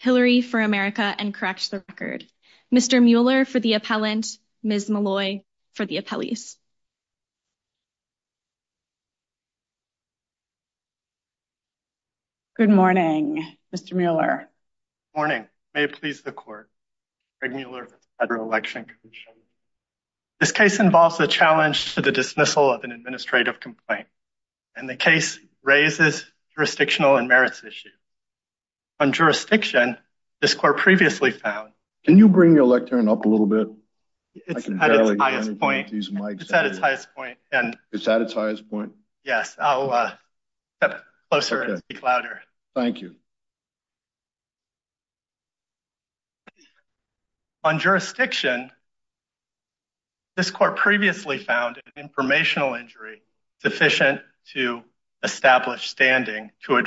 Hillary for America and correct the record. Mr. Mueller for the appellant, Ms. Malloy for the appellees. Good morning Mr. Mueller. Good morning. May it please the court. Greg This case involves a challenge to the dismissal of an administrative complaint and the case raises jurisdictional and merits issue. On jurisdiction, this court previously found. Can you bring your lectern up a little bit? It's at its highest point and it's at its highest point. Yes, I'll step closer and speak louder. Thank you. On jurisdiction, this court previously found an informational injury sufficient to establish standing to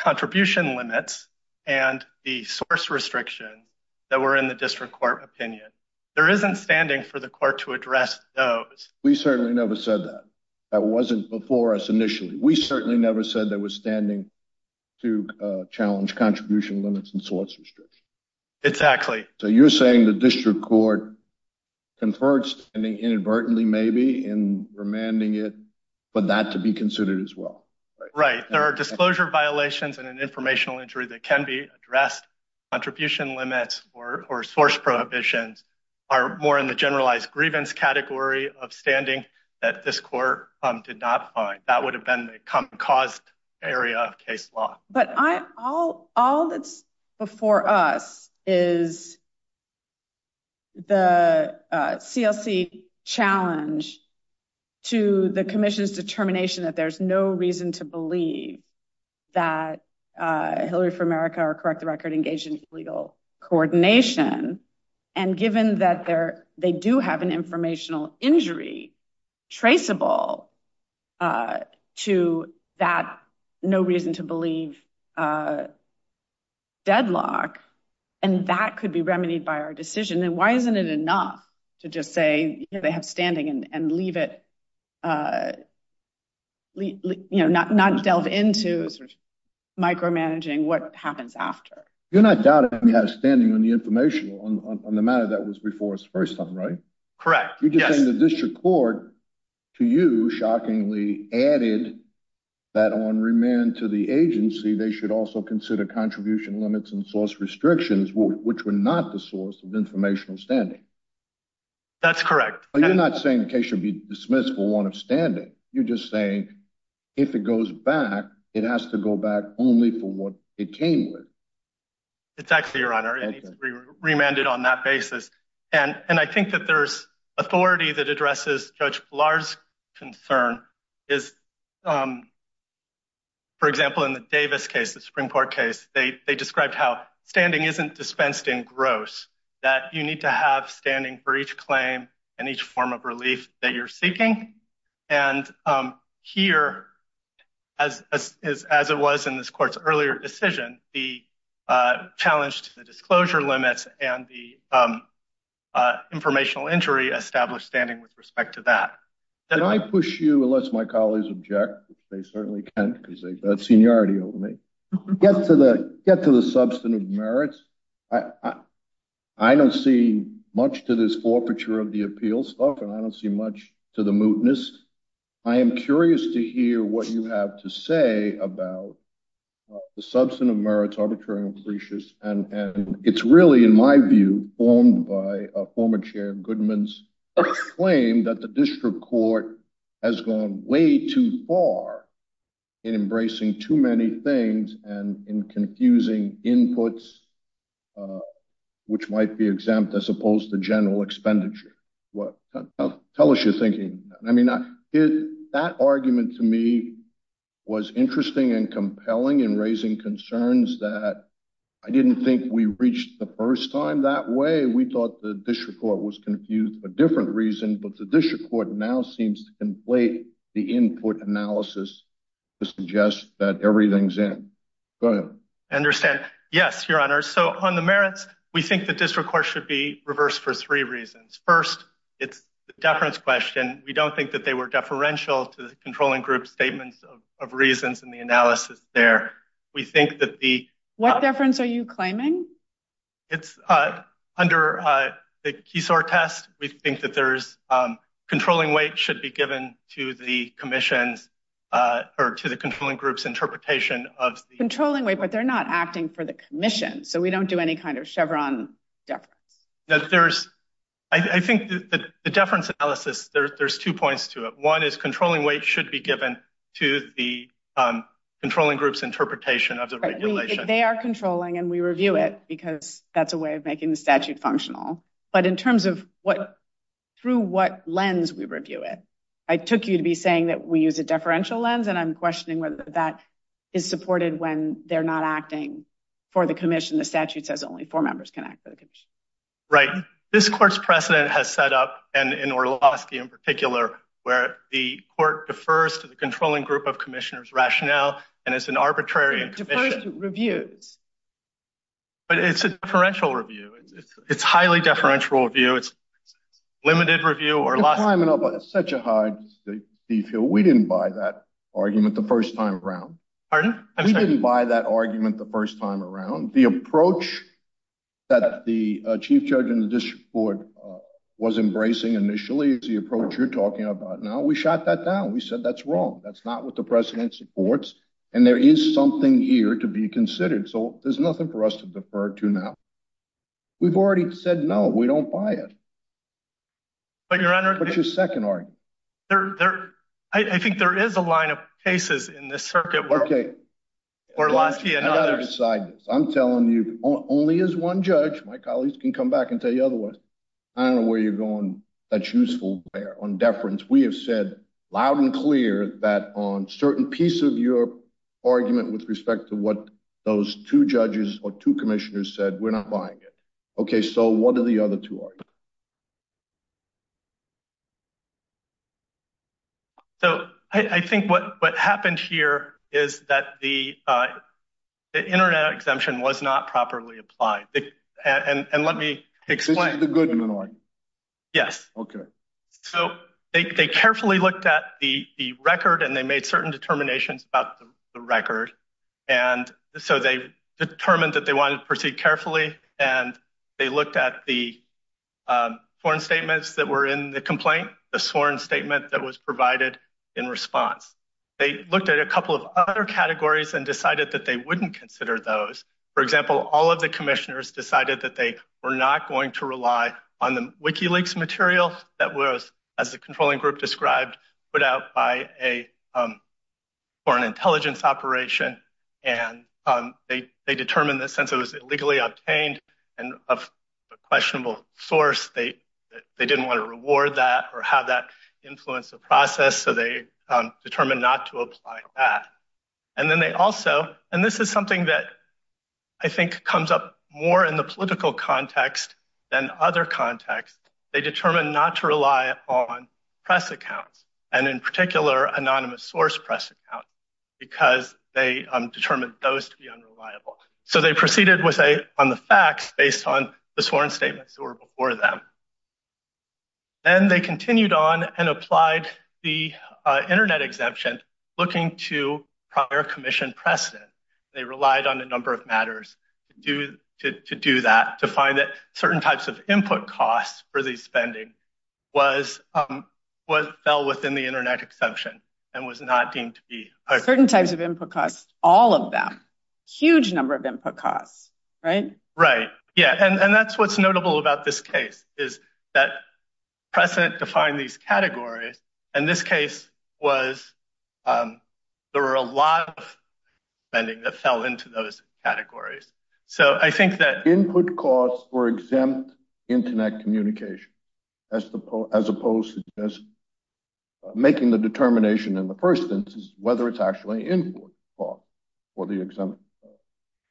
contribution limits and the source restriction that were in the district court opinion. There isn't standing for the court to address those. We certainly never said that. That wasn't before us initially. We certainly never said that we're standing to challenge contribution limits and source restriction. Exactly. So you're saying the district court conferred standing inadvertently in remanding it for that to be considered as well. Right. There are disclosure violations and an informational injury that can be addressed. Contribution limits or source prohibitions are more in the generalized grievance category of standing that this court did not find. That would have been the common cause area of case law. But all that's before us is the CLC challenge to the commission's determination that there's no reason to believe that Hillary for America or correct the record engaged in illegal coordination. And given that they do have an informational injury traceable to that no reason to believe deadlock, and that could be remedied by our decision, then why isn't it enough to just say they have standing and leave it, you know, not delve into micromanaging what happens after? You're not doubting we have standing on the information on the matter that was before us first time, right? Correct. You just think the district court to you, shockingly added that on remand to the agency, they should also consider contribution limits and source restrictions, which were not the source of informational standing. That's correct. You're not saying the case should be dismissed for one of standing. You're just saying if it goes back, it has to go back only for what it came with. It's actually your honor and remanded on that basis. And I think that there's authority that addresses Judge Lars concern is, for example, in the Davis case, the Supreme Court case, they described how standing isn't dispensed in gross, that you need to have standing for each claim and each form of relief that you're seeking. And here, as is, as it was in this court's earlier decision, the challenge to the disclosure limits and the informational injury established standing with respect to that. Can I push you, unless my colleagues object, they certainly can, because they've got seniority over me. Get to the substantive merits. I don't see much to this forfeiture of the appeal stuff, and I don't see much to the mootness. I am curious to hear what you have to say about the substantive merits, arbitrary and precious. And it's really, in my view, formed by a former chair Goodman's claim that the district court has gone way too far in embracing too many things and in confusing inputs, which might be exempt as opposed to was interesting and compelling in raising concerns that I didn't think we reached the first time that way. We thought the district court was confused for different reasons, but the district court now seems to conflate the input analysis to suggest that everything's in. Go ahead. I understand. Yes, Your Honor. So on the merits, we think the district court should be reversed for three reasons. First, it's the deference question. We don't think that they were deferential to the of reasons in the analysis there. We think that the... What deference are you claiming? It's under the Keysore test. We think that there's controlling weight should be given to the commission's or to the controlling group's interpretation of... Controlling weight, but they're not acting for the commission. So we don't do any kind of Chevron deference. That there's... I think that the deference analysis, there's two points to it. One is the controlling group's interpretation of the regulation. They are controlling and we review it because that's a way of making the statute functional. But in terms of what... Through what lens we review it. I took you to be saying that we use a deferential lens and I'm questioning whether that is supported when they're not acting for the commission. The statute says only four members can act for the commission. Right. This court's precedent has set up and in Orlowski in rationale and it's an arbitrary... It's a deferential review. But it's a deferential review. It's highly deferential review. It's limited review or less... You're climbing up such a high... We didn't buy that argument the first time around. Pardon? I'm sorry. We didn't buy that argument the first time around. The approach that the chief judge in the district board was embracing initially is the approach you're talking about now. We shot that down. We said that's wrong. That's not what the precedent supports. And there is something here to be considered. So there's nothing for us to defer to now. We've already said no, we don't buy it. But your honor... What's your second argument? I think there is a line of cases in this circuit where Orlowski and others... Okay. I've got to decide this. I'm telling you, only as one judge, my colleagues can come back and tell you otherwise. I don't know where you're going that's useful on deference. We have said loud and clear that on certain piece of your argument with respect to what those two judges or two commissioners said, we're not buying it. Okay. So what are the other two arguments? So I think what happened here is that the internet exemption was not properly applied. And let me explain. This is the good one? Yes. Okay. So they carefully looked at the record and they made certain determinations about the record. And so they determined that they wanted to proceed carefully. And they looked at the foreign statements that were in the complaint, the sworn statement that was provided in response. They looked at a couple of other categories and wouldn't consider those. For example, all of the commissioners decided that they were not going to rely on the WikiLeaks material that was, as the controlling group described, put out for an intelligence operation. And they determined that since it was illegally obtained and of a questionable source, they didn't want to reward that or have that influence the process. So they determined not to apply that. And then they also, and this is something that I think comes up more in the political context than other contexts. They determined not to rely on press accounts and in particular anonymous source press account because they determined those to be unreliable. So they proceeded with a, on the facts based on the sworn statements that were before them. Then they continued on and applied the internet exemption looking to prior commission precedent. They relied on a number of matters to do that, to find that certain types of input costs for these spending was what fell within the internet exemption and was not deemed to be. Certain types of input costs, all of them, huge number of input costs, right? Right. Yeah. And that's, what's notable about this case is that precedent defined these categories. And this case was, there were a lot of spending that fell into those categories. So I think that input costs were exempt internet communication as opposed to just making the determination in the first instance, whether it's actually input cost for the exempt.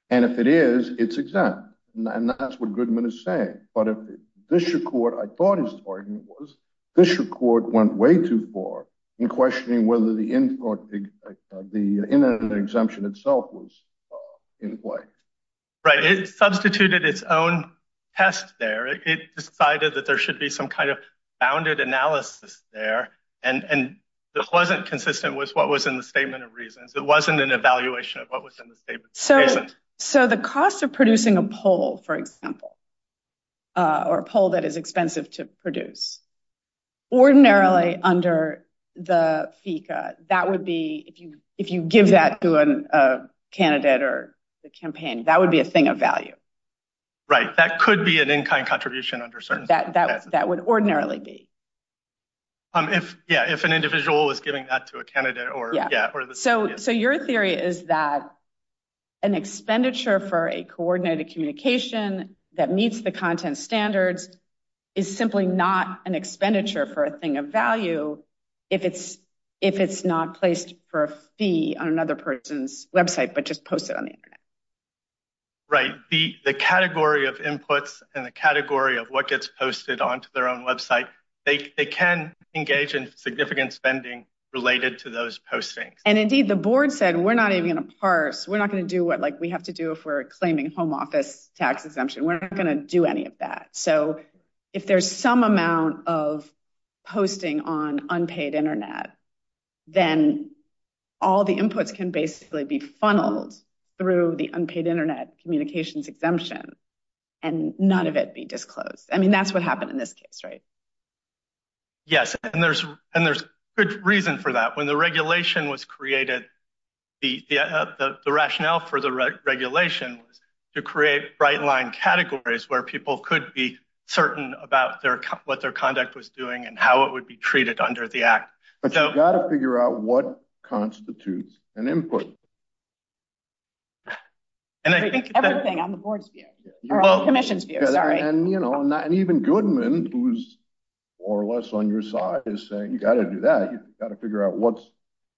And if it is, it's exempt and that's what Goodman is saying. But if this record, I thought his argument was this record went way too far in questioning, whether the input, the internet exemption itself was in play. Right. It substituted its own test there. It decided that there should be some kind of bounded analysis there. And, and that wasn't consistent with what was in the statement of reasons. It wasn't an evaluation of what was in the statement. So, so the cost of producing a poll, for example, or a poll that is expensive to produce ordinarily under the FICA, that would be, if you, if you give that to a candidate or the campaign, that would be a thing of value. Right. That could be an in-kind contribution under certain. That, that, that would ordinarily be. If, yeah, if an individual is giving that to a candidate or, yeah. So, so your theory is that an expenditure for a coordinated communication that meets the content standards is simply not an expenditure for a thing of value. If it's, if it's not placed for a fee on another person's website, but just post it on the internet. Right. The, the category of inputs and the category of what gets posted onto their own website, they can engage in significant spending related to those postings. And indeed the board said, we're not even going to parse. We're not going to do what, like we have to do if we're claiming home office tax exemption, we're not going to do any of that. So if there's some amount of posting on unpaid internet, then all the inputs can basically be in this case. Right. Yes. And there's, and there's good reason for that. When the regulation was created, the, the, the, the rationale for the regulation was to create bright line categories where people could be certain about their, what their conduct was doing and how it would be treated under the act. But you got to figure out what constitutes an input. And I think everything on the board's view or commission's view. Sorry. And you know, not even Goodman who's or less on your side is saying, you got to do that. You got to figure out what's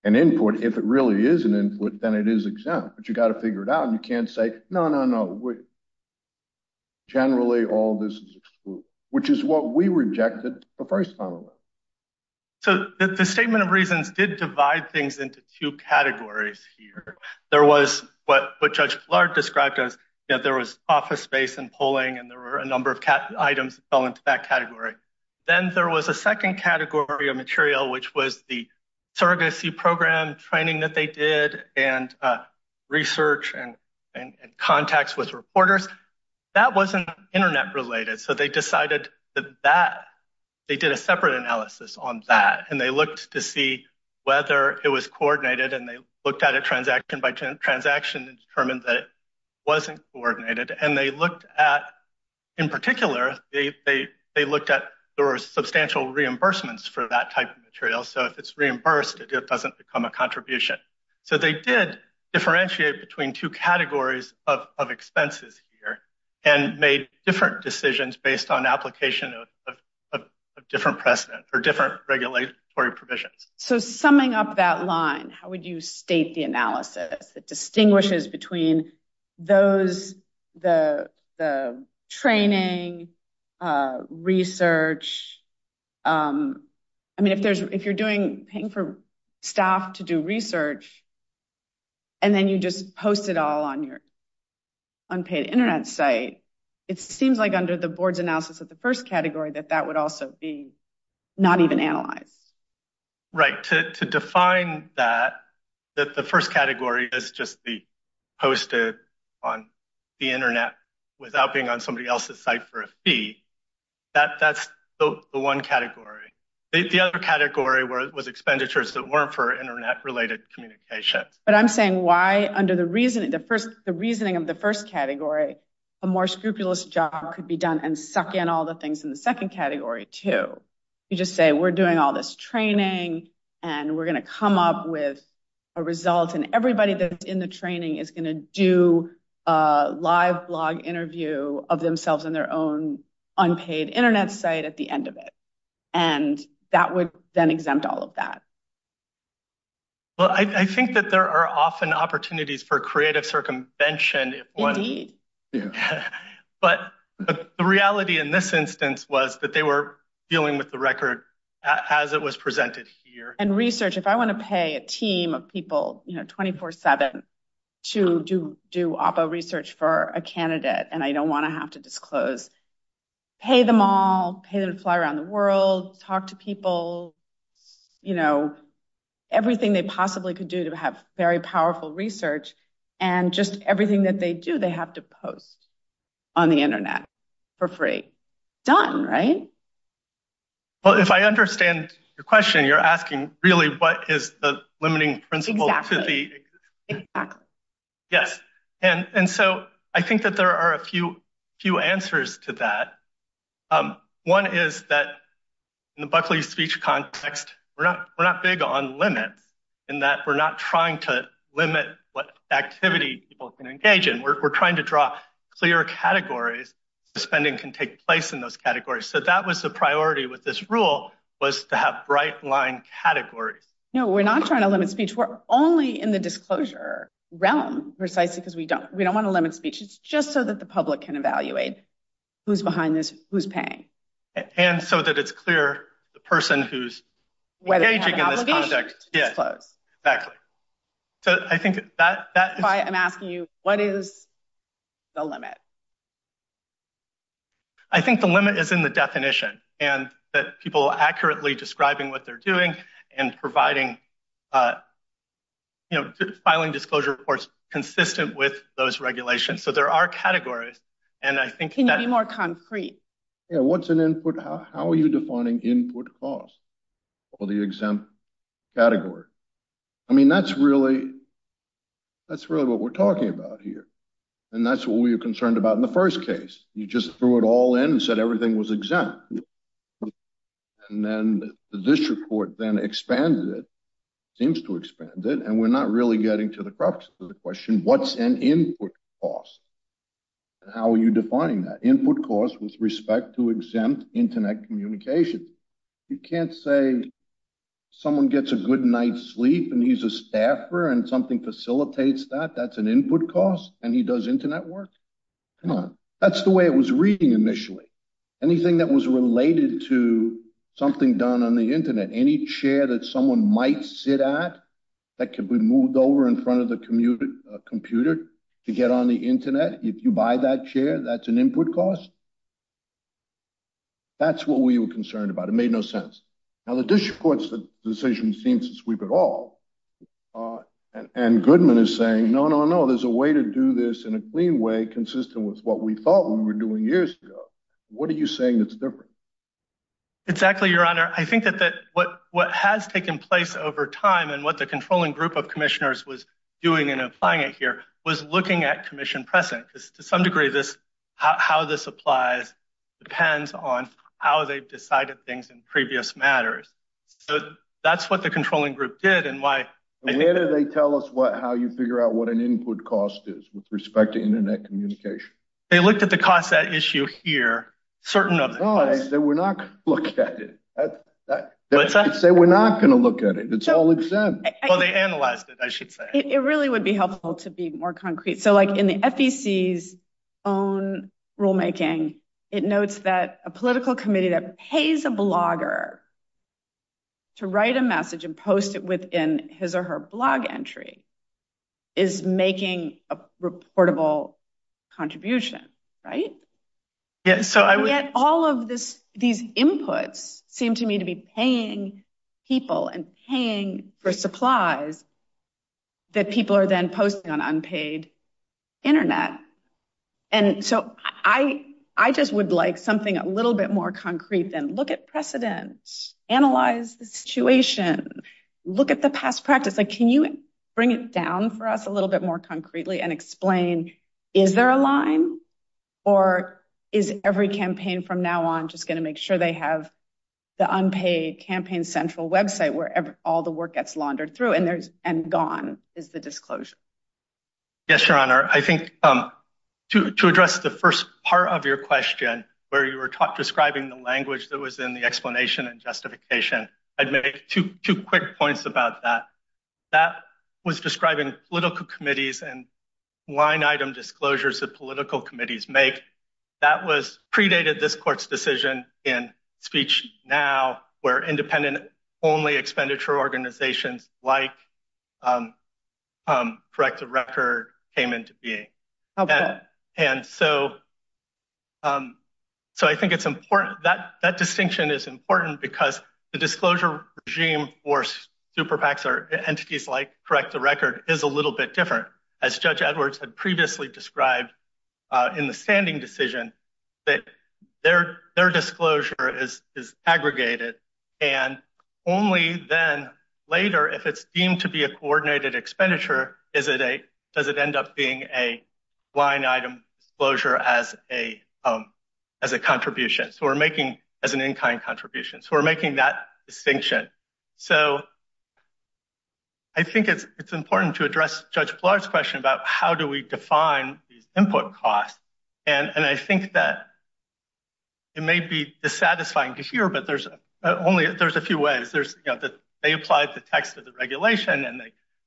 an input. If it really is an input, then it is exempt, but you got to figure it out. And you can't say, no, no, no. Generally all this is excluded, which is what we rejected the first time. So the statement of reasons did divide things into two categories here. There was what, what judge Lard described as, you know, there was office space and polling, and there were a number of cat items fell into that category. Then there was a second category of material, which was the surrogacy program training that they did and research and, and, and contacts with reporters that wasn't internet related. So they decided that that they did a separate analysis on that. And they looked to see whether it was coordinated and they determined that it wasn't coordinated. And they looked at, in particular, they, they, they looked at, there were substantial reimbursements for that type of material. So if it's reimbursed, it doesn't become a contribution. So they did differentiate between two categories of expenses here and made different decisions based on application of, of, of different precedent or different regulatory provisions. So summing up that line, how would you state the analysis that distinguishes between those, the, the training research? I mean, if there's, if you're doing paying for staff to do research and then you just post it all on your unpaid internet site, it seems like under the board's right to, to define that, that the first category is just the posted on the internet without being on somebody else's site for a fee that that's the one category. The other category where it was expenditures that weren't for internet related communications. But I'm saying why under the reasoning, the first, the reasoning of the first category, a more scrupulous job could be done and suck in all the things in the second category too. You just say, we're doing all this training and we're going to come up with a result. And everybody that's in the training is going to do a live blog interview of themselves in their own unpaid internet site at the end of it. And that would then exempt all of that. Well, I think that there are often opportunities for creative circumvention, but the reality in this instance was that they were dealing with the record as it was presented here. And research, if I want to pay a team of people, you know, 24 seven to do, do oppo research for a candidate. And I don't want to have to disclose, pay them all pay them to fly around the world, talk to people, you know, everything they possibly could do to have very powerful research and just everything that they do, they have to post on the internet for free. Done, right? Well, if I understand your question, you're asking really, what is the limiting principle? Yes. And, and so I think that there are a few, few answers to that. One is that in the Buckley speech context, we're not, we're not big on limits in that we're not trying to categories. Suspending can take place in those categories. So that was the priority with this rule was to have bright line categories. No, we're not trying to limit speech. We're only in the disclosure realm, precisely because we don't, we don't want to limit speech. It's just so that the public can evaluate who's behind this, who's paying. And so that it's clear the person who's engaging in this project. Yeah, exactly. So I think that, that's why I'm asking you, what is the limit? I think the limit is in the definition and that people accurately describing what they're doing and providing, you know, filing disclosure reports consistent with those regulations. So there are categories. And I think, can you be more concrete? Yeah. What's an input? How, how are you defining input cost for the exempt category? I mean, that's really, that's really what we're talking about here. And that's what we were concerned about in the first case. You just threw it all in and said everything was exempt. And then the district court then expanded it, seems to expand it. And we're not really getting to the crux of the question. What's an input cost? And how are you defining that input cost with respect to exempt internet communication? You can't say someone gets a good night's sleep and he's a staffer and something facilitates that, that's an input cost and he does internet work. Come on. That's the way it was reading initially. Anything that was related to something done on the internet, any chair that someone might sit at that could be moved over in front of the computer to get on the internet. If you buy that chair, that's an input cost. That's what we were concerned about. It made no sense. Now the district court's decision seems to sweep it all. And Goodman is saying, no, no, no, there's a way to do this in a clean way, consistent with what we thought we were doing years ago. What are you saying that's different? Exactly, your honor. I think that what has taken place over time and what the controlling group of commissioners was doing and applying it here was looking at commission precedent, because to some degree, this, how this applies depends on how they've decided things in previous matters. So that's what the controlling group did. And why did they tell us what, how you figure out what an input cost is with respect to internet communication? They looked at the cost, that issue here, certain of that we're not going to look at it. I would say we're not going to look at it. It's all exempt. Well, they analyzed it, I should say. It really would be helpful to be more concrete. So like in the FEC's own rulemaking, it notes that a political committee that pays a blogger to write a message and post it within his or her blog entry is making a reportable contribution, right? Yet all of these inputs seem to me to be paying people and paying for supplies that people are then posting on unpaid internet. And so I just would like something a little bit more concrete than look at precedent, analyze the situation, look at the past practice. Can you bring it down for us a little bit more concretely and explain, is there a line or is every campaign from now on just going to make sure they have the unpaid campaign central website where all the work gets laundered through and gone is the disclosure? Yes, Your Honor. I think to address the first part of your question, where you were describing the language that was in the explanation and justification, I'd make two quick points about that. That was describing political committees and line item disclosures that political committees make. That was predated this court's decision in speech now where independent only expenditure organizations like Correct the Record came into being. Okay. And so I think it's important, that distinction is important because the disclosure regime for super PACs or entities like Correct the Record is a previously described in the standing decision, that their disclosure is aggregated. And only then later, if it's deemed to be a coordinated expenditure, does it end up being a line item disclosure as a contribution, as an in-kind contribution. So we're making that distinction. So I think it's important to address Judge Blard's question about how do we define these input costs. And I think that it may be dissatisfying to hear, but there's only a few ways. They applied the text of the regulation, and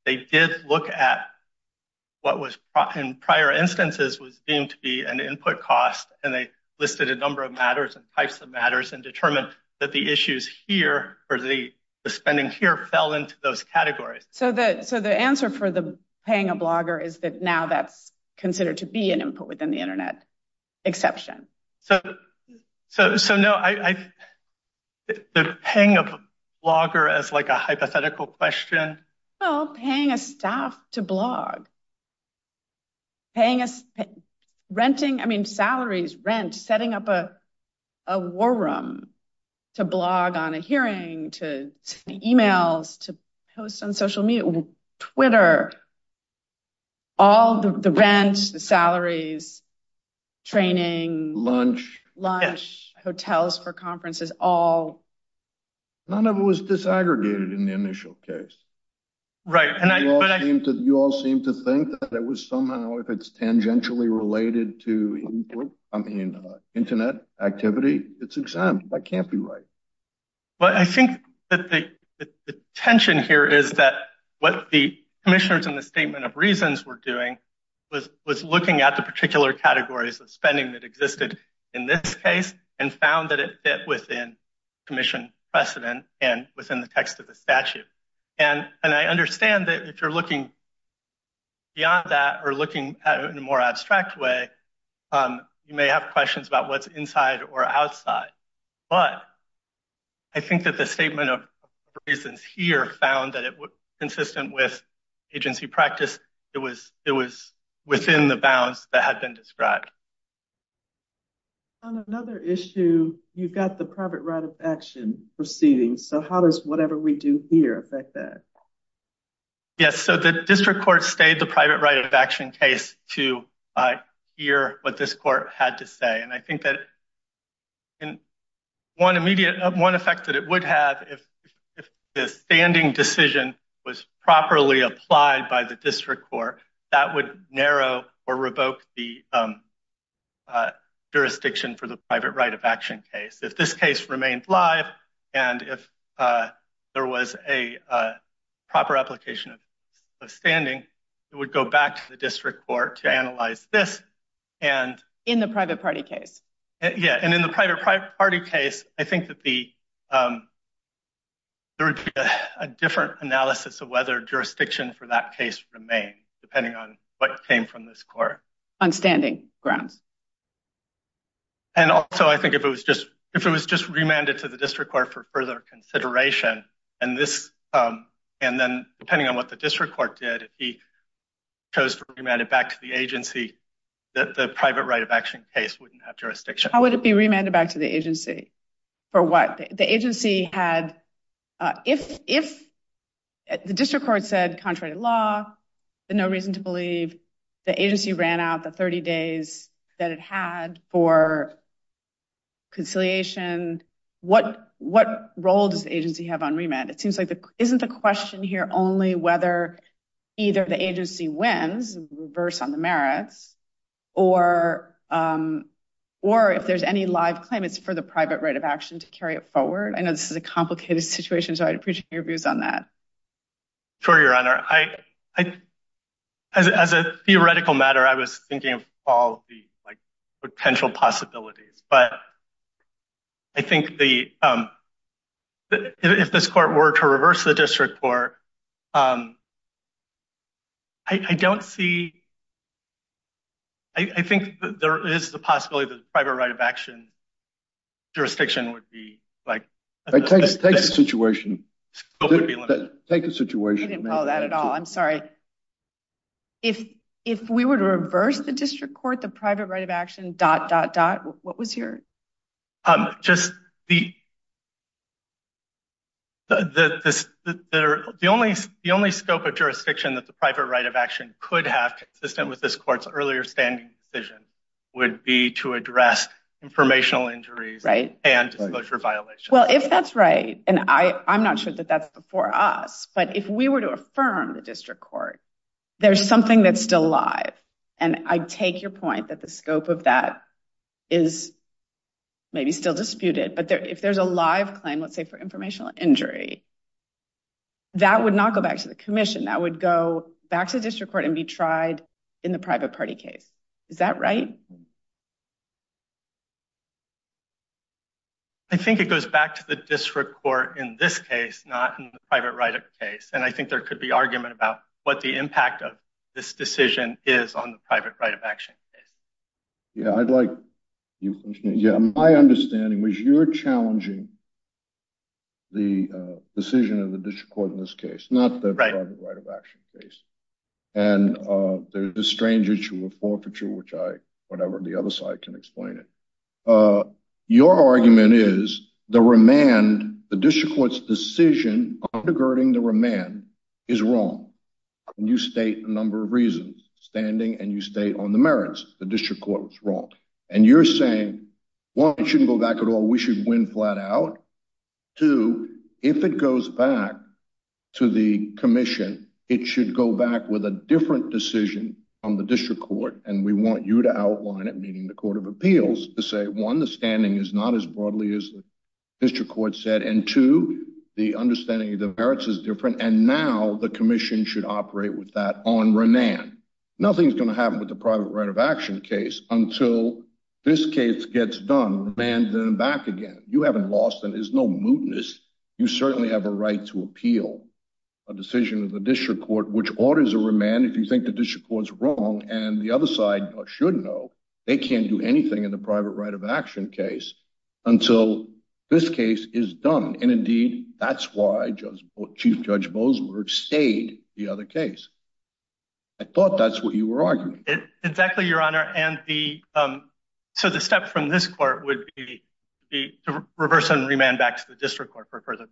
they did look at what was in prior instances was deemed to be an input cost, and they listed a number of matters and types of matters and determined that the issues here or the spending here fell into those categories. So the answer for the paying a blogger is that now that's considered to be an input within the internet exception. So paying a blogger as like a hypothetical question? Well, paying a staff to blog on a hearing, to send emails, to post on social media, Twitter, all the rent, the salaries, training, lunch, hotels for conferences, all. None of it was disaggregated in the initial case. You all seem to think that it was somehow, if it's tangentially related to internet activity, it's exempt. That can't be right. But I think that the tension here is that what the commissioners in the statement of reasons were doing was looking at the particular categories of spending that existed in this case and found that it fit within commission precedent and within the text of the statute. And I understand that if you're looking beyond that or looking at it in a more abstract way, you may have questions about what's inside or outside. But I think that the statement of reasons here found that it was consistent with agency practice. It was within the bounds that had been described. On another issue, you've got the private right of action proceedings. So how does whatever we do here affect that? Yes. So the district court stayed the private right of action case to hear what this court had to say. And I think that one effect that it would have if the standing decision was properly applied by the district court, that would narrow or revoke the there was a proper application of standing. It would go back to the district court to analyze this and in the private party case. Yeah. And in the private party case, I think that the there would be a different analysis of whether jurisdiction for that case remain depending on what came from this court on standing grounds. And also, I think if it was just if it was just remanded to the district court for further consideration and this and then depending on what the district court did, he chose to remand it back to the agency that the private right of action case wouldn't have jurisdiction. How would it be remanded back to the agency for what the agency had if if the district court said contrary to law, the no reason to believe the agency ran out the 30 days that it had for conciliation. What what role does the agency have on remand? It seems like the isn't the question here only whether either the agency wins reverse on the merits or or if there's any live claim, it's for the private right of action to carry it forward. I know this is a complicated situation, so I'd appreciate your views on that. For your honor, I as a theoretical matter, I was thinking of all the potential possibilities, but. I think the if this court were to reverse the district court. I don't see. I think there is the possibility that private right of action. Jurisdiction would be like this situation. Take the situation. I didn't know that at all. I'm sorry. If if we were to reverse the district court, the private right of action dot dot dot. What was your just the. The only the only scope of jurisdiction that the private right of action could have consistent with this court's earlier standing decision would be to address informational injuries and disclosure violations. Well, if that's right, and I I'm not sure that that's before us, but if we were to affirm the district court, there's something that's still live and I take your point that the scope of that is. Maybe still disputed, but if there's a live claim, let's say for informational injury. That would not go back to the commission that would go back to the district court and be tried in the private party case. Is that right? I think it goes back to the district court in this case, not in the private right of case, and I think there could be argument about what the impact of this decision is on the private right of action. Yeah, I'd like you. Yeah, my understanding was you're challenging. The decision of the district court in this case, not the private right of action case. And there's a strange issue of forfeiture, which I whatever the other side can explain it. Uh, your argument is the remand. The district court's decision undergirding the remand is wrong and you state a number of reasons standing and you stay on the merits. The district court was wrong and you're saying, well, it shouldn't go back at all. We should win flat out to if it goes back to the commission, it should go back with a different decision on the district court. And we want you to outline it, meaning the court of appeals to say, one, the standing is not as broadly as the district court said. And to the understanding of the merits is different. And now the commission should operate with that on remand. Nothing's going to happen with the private right of action case until this case gets done and then back again, you haven't lost. And there's no mootness. You certainly have a right to appeal a decision of district court, which orders a remand. If you think the district court's wrong and the other side should know they can't do anything in the private right of action case until this case is done. And indeed that's why just chief judge Bozeman stayed the other case. I thought that's what you were arguing. It's exactly your honor. And the, um, so the step from this court would be the reverse and remand back to the district court for further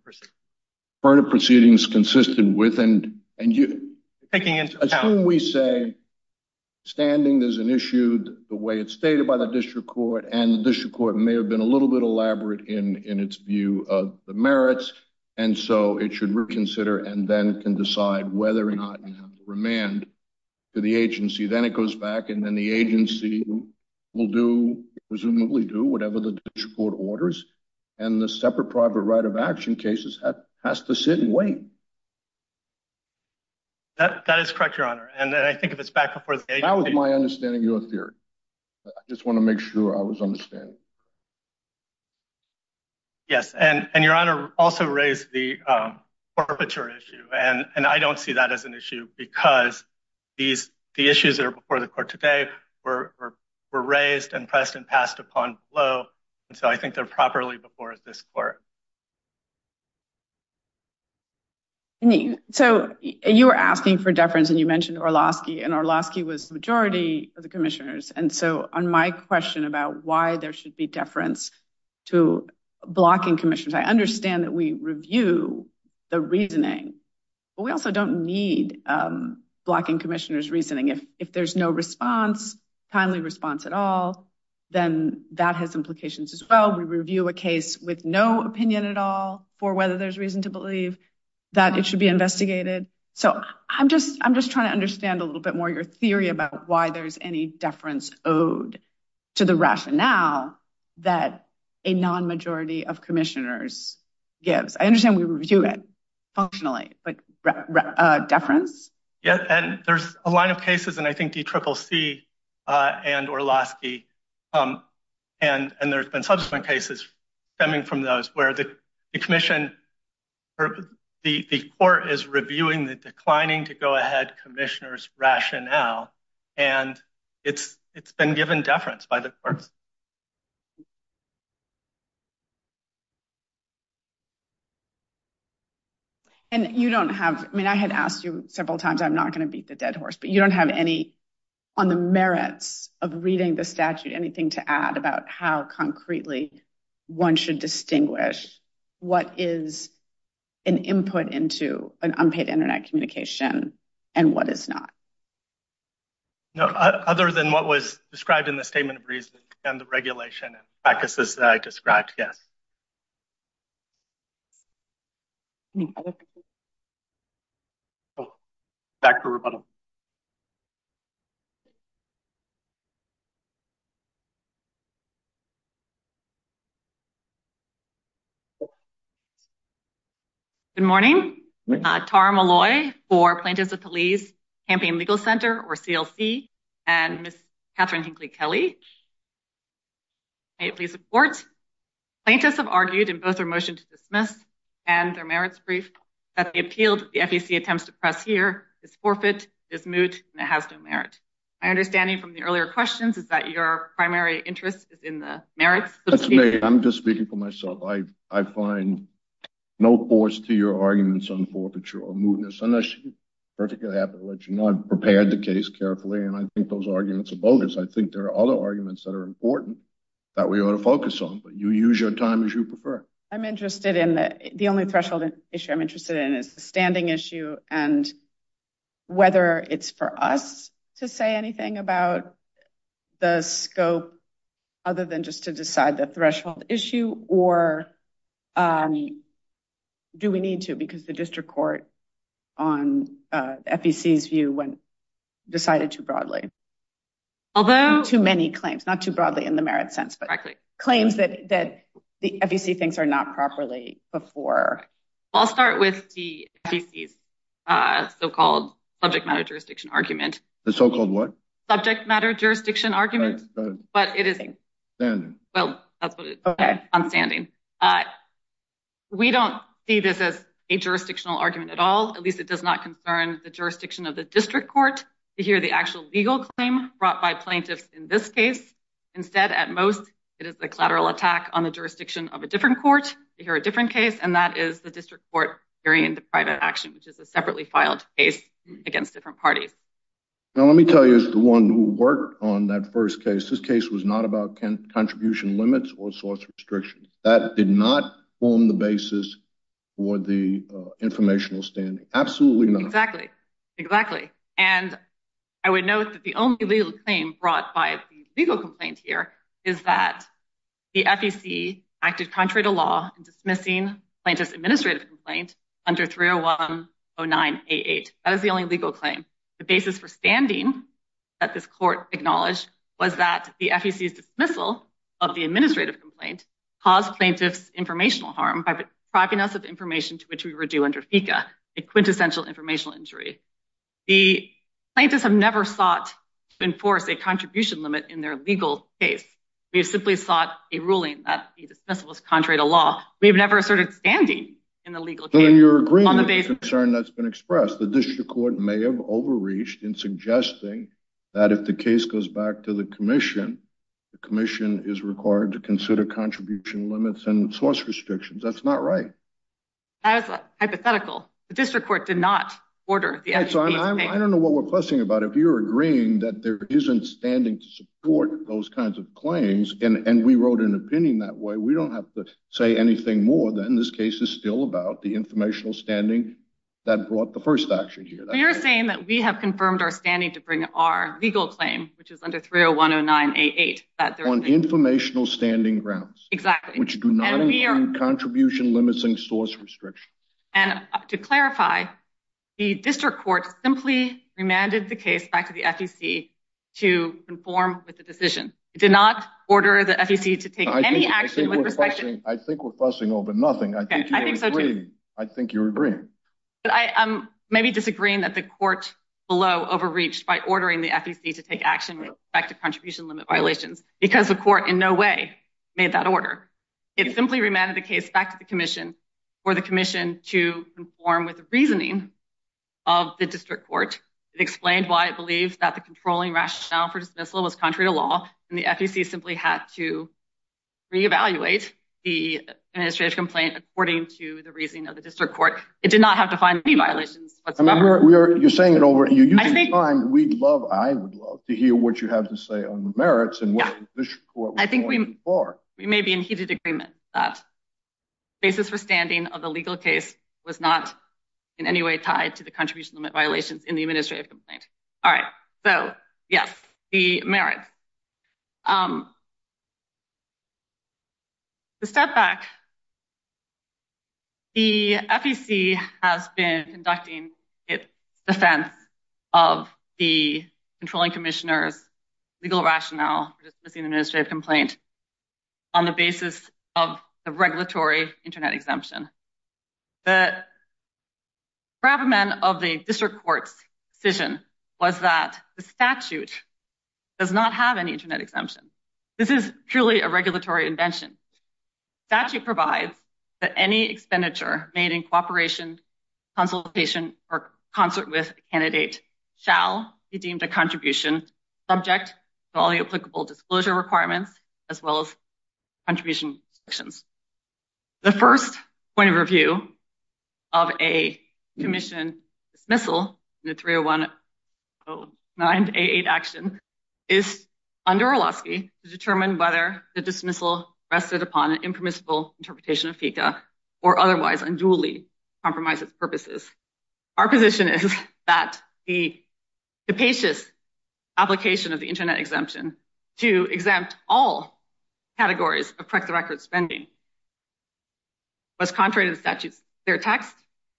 proceedings, consistent with, and, and you taking into account, we say standing, there's an issue, the way it's stated by the district court and the district court may have been a little bit elaborate in, in its view of the merits. And so it should reconsider and then can decide whether or not you have to remand to the agency. Then it goes back and then the agency will do presumably do the district court orders and the separate private right of action cases has to sit and wait. That is correct, your honor. And then I think if it's back up for my understanding, your theory, I just want to make sure I was understanding. Yes. And, and your honor also raised the, um, forfeiture issue. And I don't see that as an issue because these, the issues that are before the court today were, were raised and pressed and passed upon flow. And so I think they're properly before this court. So you were asking for deference and you mentioned Orlowski and Orlowski was the majority of the commissioners. And so on my question about why there should be deference to blocking commissioners, I understand that we review the reasoning, but we also don't need, um, timely response at all. Then that has implications as well. We review a case with no opinion at all for whether there's reason to believe that it should be investigated. So I'm just, I'm just trying to understand a little bit more your theory about why there's any deference owed to the rationale that a non-majority of commissioners gives. I understand we review it functionally, but, uh, deference. Yeah. And there's a line of cases and I think DCCC, uh, and Orlowski, um, and, and there's been subsequent cases stemming from those where the commission or the court is reviewing the declining to go ahead commissioners rationale. And it's, it's been given deference by the courts. And you don't have, I mean, I had asked you several times, I'm not going to beat the dead horse, but you don't have any on the merits of reading the statute, anything to add about how concretely one should distinguish what is an input into an unpaid internet communication and what is not. No, other than what was described in the statement of reason and the regulation and I described. Yes. Oh, back to remodel. Good morning. Uh, Tara Malloy for plaintiffs of police campaign legal center or CLC and Catherine Hinckley Kelly. Hey, please support plaintiffs have argued in both our motion to dismiss and their merits brief that the appealed the FEC attempts to press here is forfeit is moot and it has no merit. I understanding from the earlier questions is that your primary interest is in the merits. I'm just speaking for myself. I, I find no force to your arguments on forfeiture or mootness unless you're perfectly happy to let you know, I've prepared the case carefully and I think those arguments are bogus. I think there are other arguments that are important that we ought to focus on, but you use your time as you prefer. I'm interested in the, the only threshold issue I'm interested in is the standing issue and whether it's for us to say anything about the scope other than just to decide the threshold issue or, um, do we need to, because the district court on, uh, FECs view when decided to broadly, although too many claims, not too broadly in the merit sense, but claims that, that the FEC things are not properly before. I'll start with the FECs, uh, so-called subject matter, jurisdiction argument, the so-called what subject matter, jurisdiction argument, but it is well, that's what I'm understanding. Uh, we don't see this as a jurisdictional argument at all. At least it does not concern the jurisdiction of the district court to hear the actual legal claim brought by plaintiffs in this case. Instead at most, it is a collateral attack on the jurisdiction of a different court to hear a different case. And that is the district court hearing the private action, which is a separately filed case against different parties. Now, let me tell you as the one who worked on that first case, this case was not about contribution limits or source restrictions that did not form the basis for the, uh, informational standing. Absolutely not. Exactly. Exactly. And I would note that the only legal claim brought by the legal complaint here is that the FEC acted contrary to law and dismissing plaintiff's administrative complaint under 301-09-88. That is the only legal claim. The basis for standing that this court acknowledged was that the FEC's dismissal of the administrative complaint caused plaintiff's informational harm by propping us of information to which we were due under FICA, a quintessential informational injury. The plaintiffs have never sought to enforce a contribution limit in their legal case. We have simply sought a ruling that the dismissal was contrary to law. We have never asserted standing in the legal case on the basis of concern that's been expressed. The district court may have overreached in suggesting that if the case goes back to the commission, the commission is required to consider contribution limits and source restrictions. That's not right. That is hypothetical. The district court did not order. I don't know what we're questioning about. If you're agreeing that there isn't standing to support those kinds of claims and we wrote an opinion that way, we don't have to say anything more than this case is still about the informational standing that brought the first action here. You're saying that we have confirmed our standing to bring our legal claim, which is under 301-09-88. On informational standing grounds. Exactly. Which do not include contribution limits and source restrictions. And to clarify, the district court simply remanded the case back to the FEC to conform with the decision. It did not order the FEC to take any action. I think we're fussing over nothing. I think you're agreeing. I'm maybe disagreeing that the court below overreached by ordering the FEC to take action with respect to contribution limit violations because the court in no way made that order. It simply remanded the case back to the commission for the commission to conform with the reasoning of the district court. It explained why it believes that the controlling rationale for dismissal was contrary to law and the FEC simply had to re-evaluate the administrative complaint according to the reasoning of the district court. It did not have to find any violations. You're saying it over and you're using time. We'd love, I would love to hear what you have to say on the merits and what this court was going for. I think we may be in heated agreement that basis for standing of the legal case was not in any way tied to the contribution limit violations in the administrative complaint. All right, so yes, the merits. To step back, the FEC has been conducting its defense of the controlling commissioner's legal rationale for dismissing the administrative complaint on the basis of the regulatory internet exemption. The district court's decision was that the statute does not have any internet exemption. This is truly a regulatory invention. Statute provides that any expenditure made in cooperation, consultation, or concert with a candidate shall be deemed a contribution subject to all the applicable disclosure requirements as well as contribution restrictions. The first point of a commission dismissal in the 30109-88 action is under Orlowski to determine whether the dismissal rested upon an impermissible interpretation of FECA or otherwise unduly compromise its purposes. Our position is that the capacious application of the internet exemption to exempt all categories of correct the record spending was contrary to the statute's clear text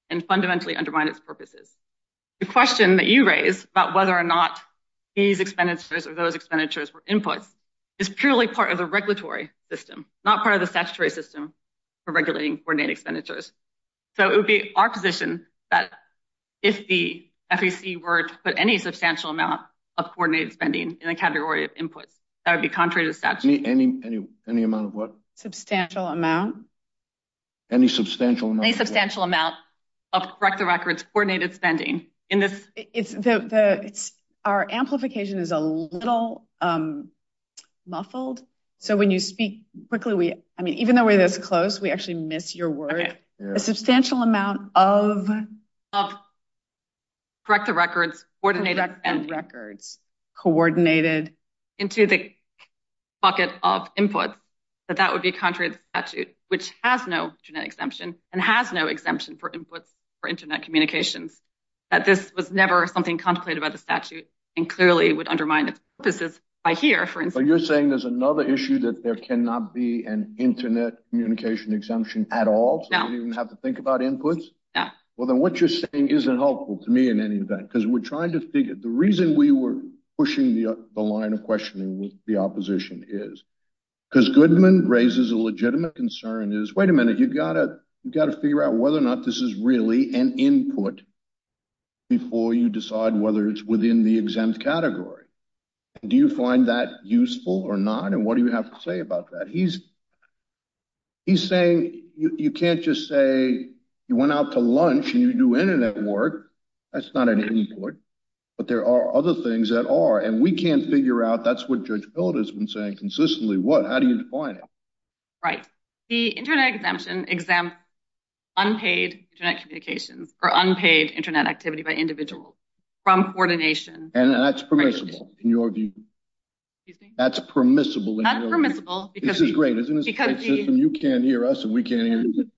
and fundamentally undermined its purposes. The question that you raised about whether or not these expenditures or those expenditures were inputs is purely part of the regulatory system, not part of the statutory system for regulating coordinated expenditures. So it would be our position that if the FEC were to put any substantial amount of coordinated spending in the category of inputs, that would be contrary to the statute. Any amount of what? Substantial amount. Any substantial amount? Any substantial amount of correct the records coordinated spending in this? Our amplification is a little muffled. So when you speak quickly, we, I mean, even though we're this close, we actually miss your word. A substantial amount of correct the records, coordinated and records coordinated into the bucket of inputs, that that would be contrary to the statute, which has no internet exemption and has no exemption for inputs for internet communications. That this was never something contemplated by the statute and clearly would undermine its purposes by here, for instance. You're saying there's another issue that there cannot be an internet communication exemption at all? So you don't even have to think about inputs? Yeah. Well, then what you're saying isn't helpful to me in any event, because we're trying to figure the reason we were pushing the line of questioning with the opposition is. Because Goodman raises a legitimate concern is, wait a minute, you've got to figure out whether or not this is really an input before you decide whether it's within the exempt category. Do you find that useful or not? And what do you have to say about that? He's saying you can't just say you went out to lunch and you do internet work. That's not an input, but there are other things that are, and we can't figure out that's what Judge Bilda's been saying consistently. What? How do you define it? Right. The internet exemption exempt unpaid internet communications or unpaid internet activity by individuals from coordination. And that's permissible in your view. That's permissible. Unpermissible. This is great, isn't it? You can't hear us and we can't hear you.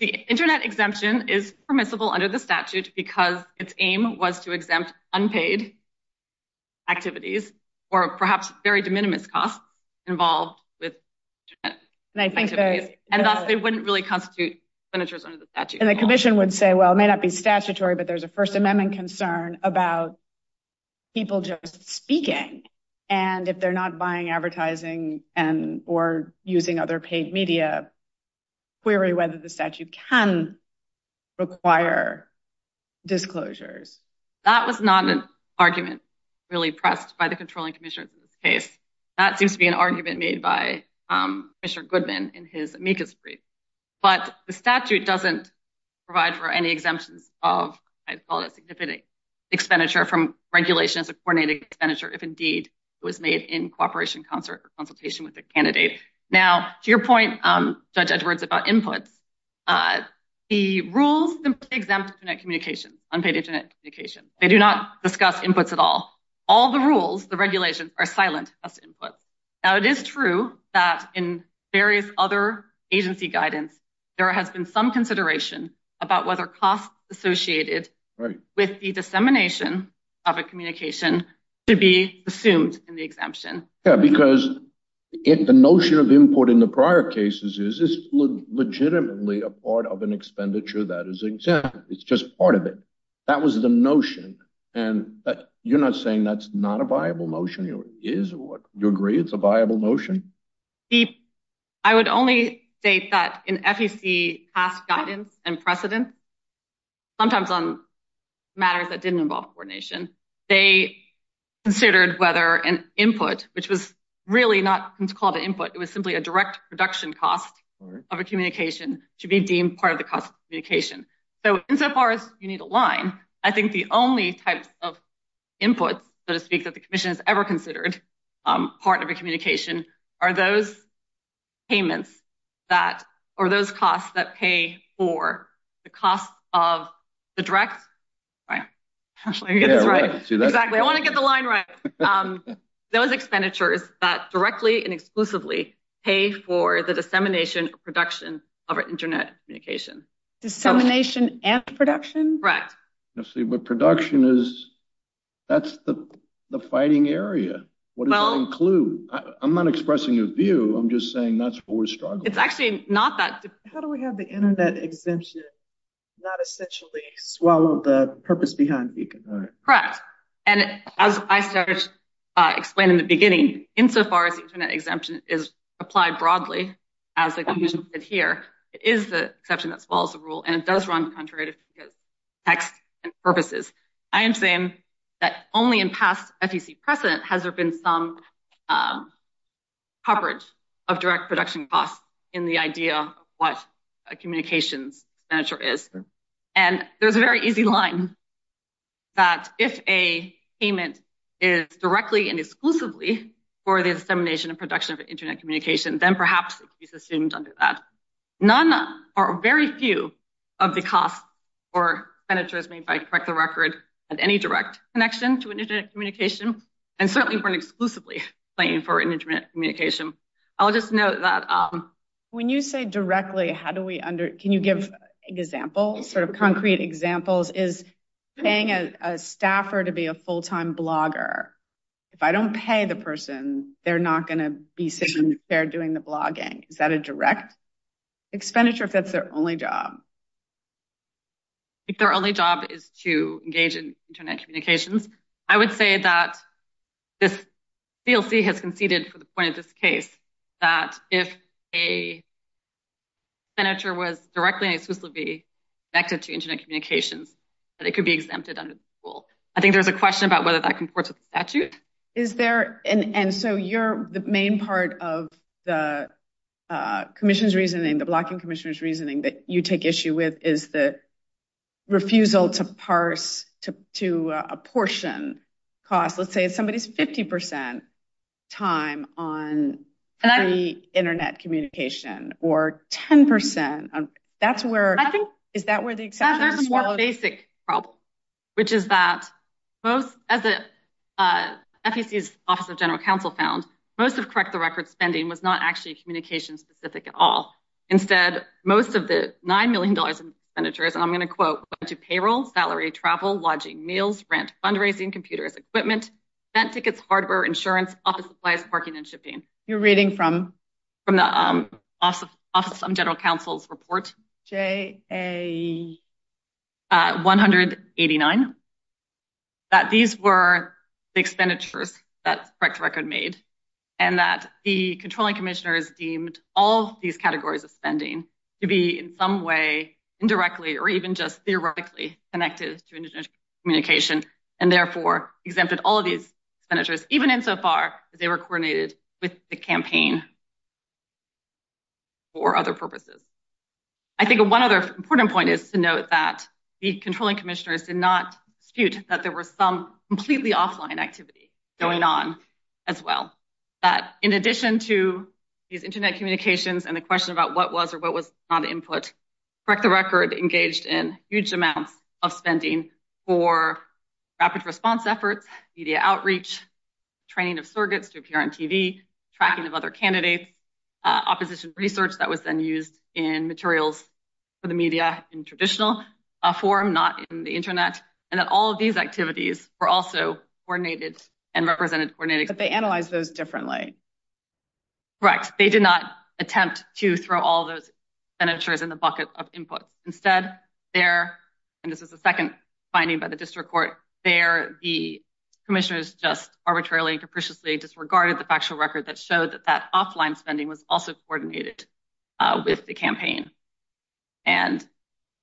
The internet exemption is permissible under the statute because its aim was to exempt unpaid activities or perhaps very de minimis costs involved with internet. And thus they wouldn't really constitute expenditures under the statute. And the commission would say, well, it may not be statutory, but there's a First Amendment concern about people just speaking. And if they're not buying advertising and or using other paid media, query whether the statute can require disclosures. That was not an argument really pressed by the controlling commissioners in this case. That seems to be an argument made by Mr. Goodman in his amicus brief. But the statute doesn't provide for any exemptions of, I'd call it a significant expenditure from regulations of coordinated expenditure, if indeed it was made in cooperation consultation with the candidate. Now, to your point, Judge Edwards, about inputs, the rules exempt internet communication, unpaid internet communication. They do not discuss inputs at all. All the rules, the regulations are silent as inputs. Now, it is true that in various other agency guidance, there has been some consideration about whether costs associated with the dissemination of a communication to be assumed in the exemption. Yeah, because if the notion of input in the prior cases is legitimately a part of an expenditure that is exempt, it's just part of it. That was the notion. And you're not saying that's not a viable notion. It is what you agree. It's a viable notion. I would only state that in FEC past guidance and precedent, sometimes on matters that didn't involve coordination, they considered whether an input, which was really not called an input, it was simply a direct production cost of a communication to be deemed part of the cost of communication. So insofar as you need a line, I think the only types of inputs, so to speak, that the commission has ever considered part of a communication are those payments that, or those costs that pay for the costs of the direct, right? Actually, I guess that's right. Exactly. I want to get the line right. Those expenditures that directly and exclusively pay for the dissemination production of internet communication. Dissemination and production? Correct. But production is, that's the fighting area. What does that include? I'm not expressing a view, I'm just saying that's what we're struggling with. It's actually not that difficult. How do we have the internet exemption not essentially swallow the purpose behind it? Correct. And as I started explaining in the beginning, insofar as the internet exemption is applied broadly, as the commission did here, it is the exception that swallows the rule, and it does run contrary to FEC's text and purposes. I am saying that only in past FEC precedent has there been some coverage of direct production costs in the idea of what a communications expenditure is. And there's a very easy line that if a payment is directly and exclusively for the dissemination and production of internet communication, then perhaps it can be assumed under that none are very few of the costs or expenditures made correct the record of any direct connection to internet communication, and certainly weren't exclusively paying for internet communication. I'll just note that. When you say directly, how do we under, can you give examples, sort of concrete examples? Is paying a staffer to be a full-time blogger, if I don't pay the person, they're not going to be sitting there doing the to engage in internet communications. I would say that this DLC has conceded for the point of this case, that if a senator was directly and exclusively connected to internet communications, that it could be exempted under the rule. I think there's a question about whether that comports with the statute. Is there, and so you're the main part of the commission's reasoning, the blocking commissioner's reasoning that you take issue with is the refusal to parse to a portion cost. Let's say it's somebody's 50% time on internet communication or 10%. That's where, I think, is that where the exception is? There's a more basic problem, which is that both as the FEC's Office of General Counsel found, most of correct the record spending was not communication specific at all. Instead, most of the $9 million in expenditures, and I'm going to quote, went to payroll, salary, travel, lodging, meals, rent, fundraising, computers, equipment, bent tickets, hardware, insurance, office supplies, parking, and shipping. You're reading from? From the Office of General Counsel's report. J-A-189. That these were the expenditures that controlling commissioners deemed all these categories of spending to be in some way indirectly or even just theoretically connected to internet communication and therefore exempted all of these expenditures, even insofar as they were coordinated with the campaign for other purposes. I think one other important point is to note that the controlling commissioners did not dispute that there were some completely offline activity going on as well. That in addition to these internet communications and the question about what was or what was not input, correct the record engaged in huge amounts of spending for rapid response efforts, media outreach, training of surrogates to appear on TV, tracking of other candidates, opposition research that was then used in materials for the media in traditional form, not in the internet, and that all of these activities were also coordinated and represented coordinating. But they analyzed those differently. Correct. They did not attempt to throw all those expenditures in the bucket of input. Instead, there, and this is the second finding by the district court, there the commissioners just arbitrarily and capriciously disregarded the factual record that showed that that offline spending was also coordinated with the campaign. And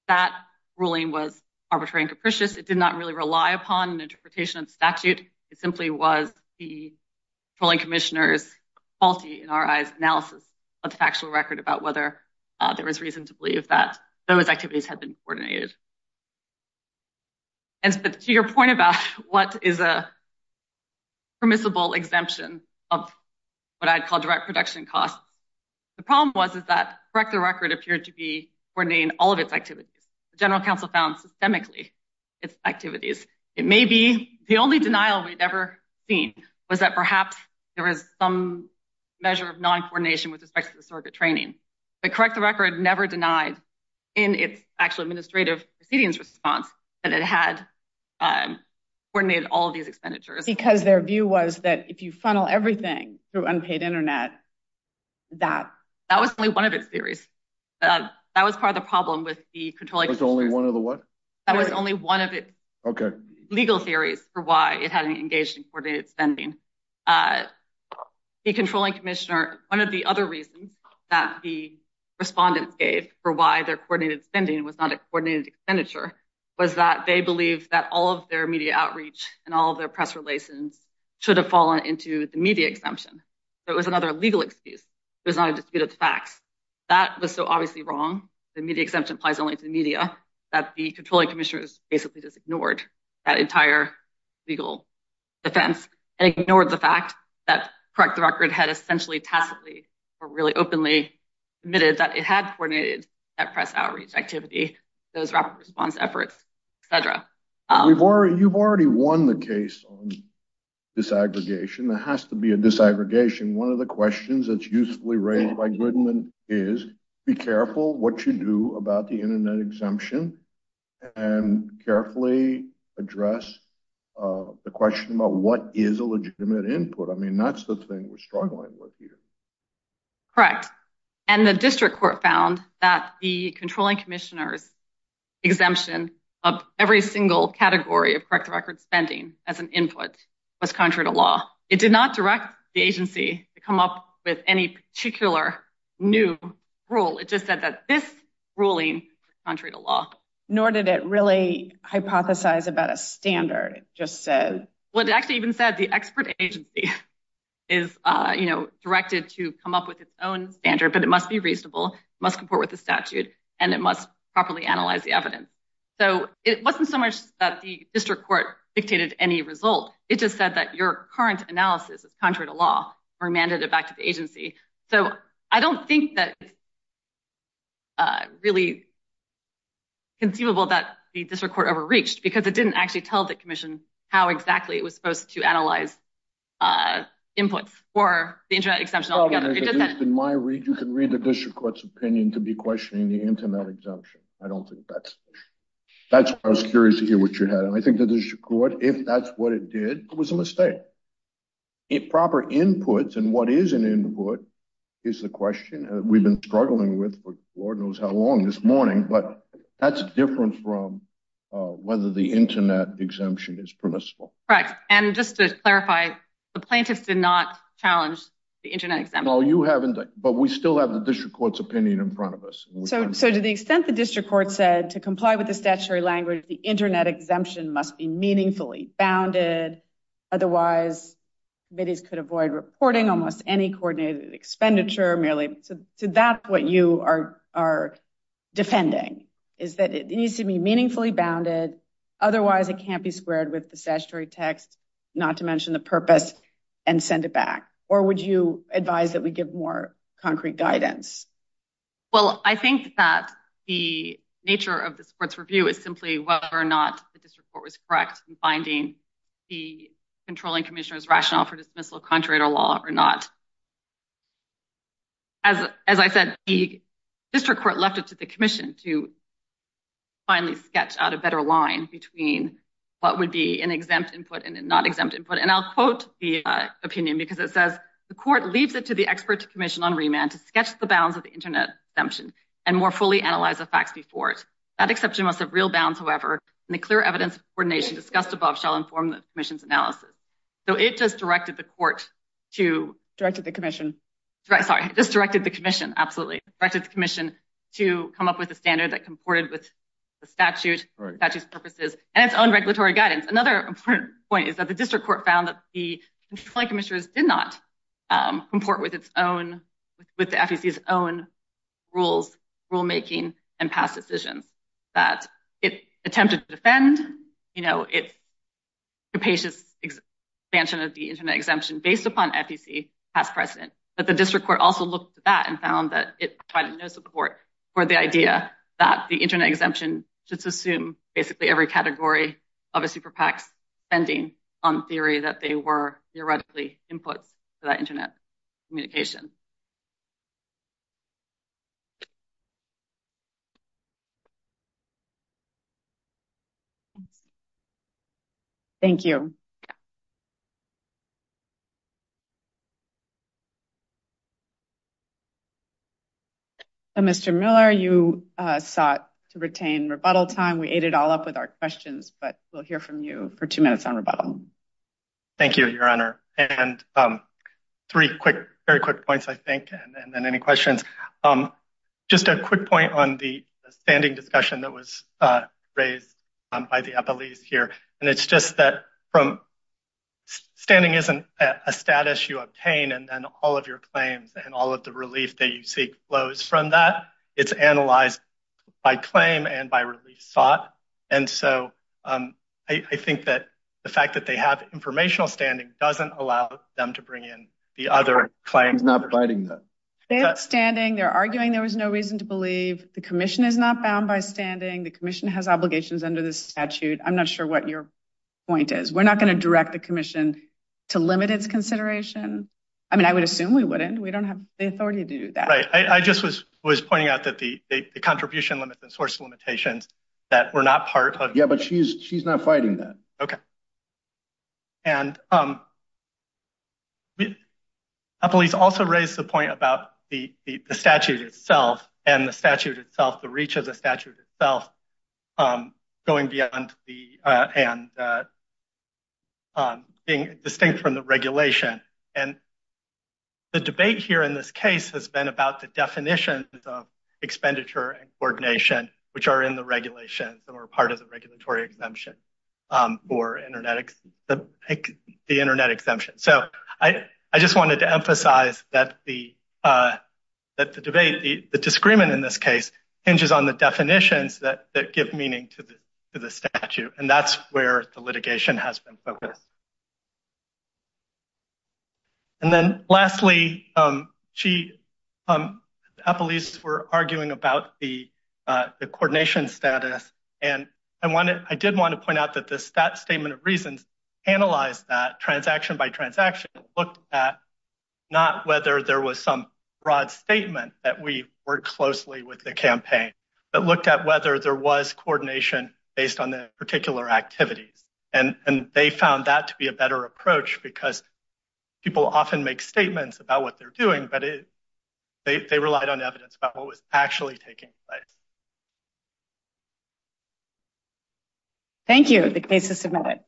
that ruling was arbitrary and capricious. It did not really rely upon an interpretation of statute. It simply was the controlling commissioners faulty in our eyes analysis of the factual record about whether there was reason to believe that those activities had been coordinated. And to your point about what is a permissible exemption of what I'd call direct production costs. The problem was, is that correct the record appeared to be coordinating all of its activities. The general counsel found systemically its activities. It may be the only denial we'd ever seen was that perhaps there was some measure of non-coordination with respect to the surrogate training. But correct the record never denied in its actual administrative proceedings response that it had coordinated all of these expenditures. Because their view was that if you funnel everything through unpaid internet, that was only one of its theories. That was part of the problem with the controlling commissioners. That was only one of the what? That was only one of its legal theories for why it hadn't engaged in coordinated spending. The controlling commissioner, one of the other reasons that the respondents gave for why their coordinated spending was not a coordinated expenditure was that they believe that all of their media outreach and all of their press relations should have fallen into the media exemption. So it was another legal excuse. It was not a dispute of the facts. That was so obviously wrong. The media exemption applies only to the media that the controlling commissioners basically just ignored that entire legal defense and ignored the fact that correct the record had essentially tacitly or really openly admitted that it had coordinated that press outreach activity, those rapid response efforts, et cetera. You've already won the case on disaggregation. There has to be a disaggregation. One of the questions that's usefully raised by Goodman is be careful what you do about the internet exemption and carefully address the question about what is a legitimate input. I mean, that's the thing we're struggling with here. Correct. And the district court found that the controlling commissioners exemption of every single category of correct record spending as an input was contrary to law. It did not direct the agency to come up with any particular new rule. It just said that this ruling contrary to law, nor did it really hypothesize about a standard. It just said, well, it actually even said the expert agency is directed to come up with its own standard, but it must be reasonable, must comport with the statute and it must properly analyze the evidence. So it wasn't so much that the district court dictated any result. It just said that your current analysis is contrary to law or mandated back to the agency. So I don't think that really conceivable that the district court overreached because it didn't actually tell the commission how exactly it was supposed to analyze a input for the internet exemption. In my region, you can read the district court's opinion to be questioning the internet exemption. I don't think that's, that's what I was curious to hear what you had. And I think the district court, if that's what it did, it was a mistake. It proper inputs. And what is an input is the question we've been struggling with for Lord knows how long this morning, but that's different from whether the internet exemption is permissible. And just to clarify, the plaintiffs did not challenge the internet. But we still have the district court's opinion in front of us. So to the extent the district court said to comply with the statutory language, the internet exemption must be meaningfully bounded. Otherwise, committees could avoid reporting almost any coordinated expenditure merely to that. What you are, are defending is that it needs to be meaningfully bounded. Otherwise it can't be squared with the text, not to mention the purpose and send it back. Or would you advise that we give more concrete guidance? Well, I think that the nature of the sports review is simply whether or not the district court was correct in finding the controlling commissioner's rationale for dismissal contrary to law or not. As, as I said, the district court left it to the commission to finally sketch out a better line between what would be an exempt input and a not exempt input. And I'll quote the opinion because it says the court leaves it to the experts commission on remand to sketch the bounds of the internet exemption and more fully analyze the facts before it. That exception must have real bounds. However, in the clear evidence coordination discussed above shall inform the commission's analysis. So it just directed the court to directed the commission, right? Sorry. It just directed the commission. Absolutely. Directed the commission to come up with a standard that comported with the statute that just purposes and its own regulatory guidance. Another important point is that the district court found that the commissioners did not comport with its own, with the FEC's own rules, rulemaking and past decisions that it attempted to defend, you know, it's capacious expansion of the internet exemption based upon FEC past precedent. But the district court also looked at that and found that it provided no support for the idea that the internet exemption should assume basically every category of a super PACs spending on theory that they were in. Mr. Miller, you sought to retain rebuttal time. We ate it all up with our questions, but we'll hear from you for two minutes on rebuttal. Thank you, your honor. And three quick, very quick points, I think. And then any questions, just a quick point on the standing discussion that was raised by the police here. And it's just that from standing isn't a status you obtain and then all of your claims and all of the relief that you seek flows from that. It's analyzed by claim and by release thought. And so I think that the fact that they have informational standing doesn't allow them to bring in the other claims, not providing that standing they're arguing. There was no reason to believe the commission is not bound by standing. The commission has obligations under this statute. I'm not sure what your point is. We're not going to direct the commission to limit its consideration. I mean, I would assume we wouldn't, we don't have the authority to do that. Right. I just was pointing out that the contribution limits and source limitations that we're not part of. Yeah, but she's not fighting that. Okay. And a police also raised the point about the statute itself and the statute itself, the reach of the statute itself going beyond the, and being distinct from the regulation. And the debate here in this case has been about the definition of expenditure and coordination, which are in the regulations that were part of the regulatory exemption or the internet exemption. So I just wanted to emphasize that the debate, the disagreement in this case hinges on the definitions that give meaning to the statute. And that's where the litigation has been focused. And then lastly, she, police were arguing about the coordination status. And I wanted, I did want to point out that this stat statement of reasons, analyze that transaction by transaction looked at not whether there was some broad statement that we worked closely with the campaign, but looked at whether there was coordination based on the particular activities. And they found that to be a better approach because people often make statements about what they're doing, but they relied on evidence about what was actually taking place. Thank you. The case is submitted.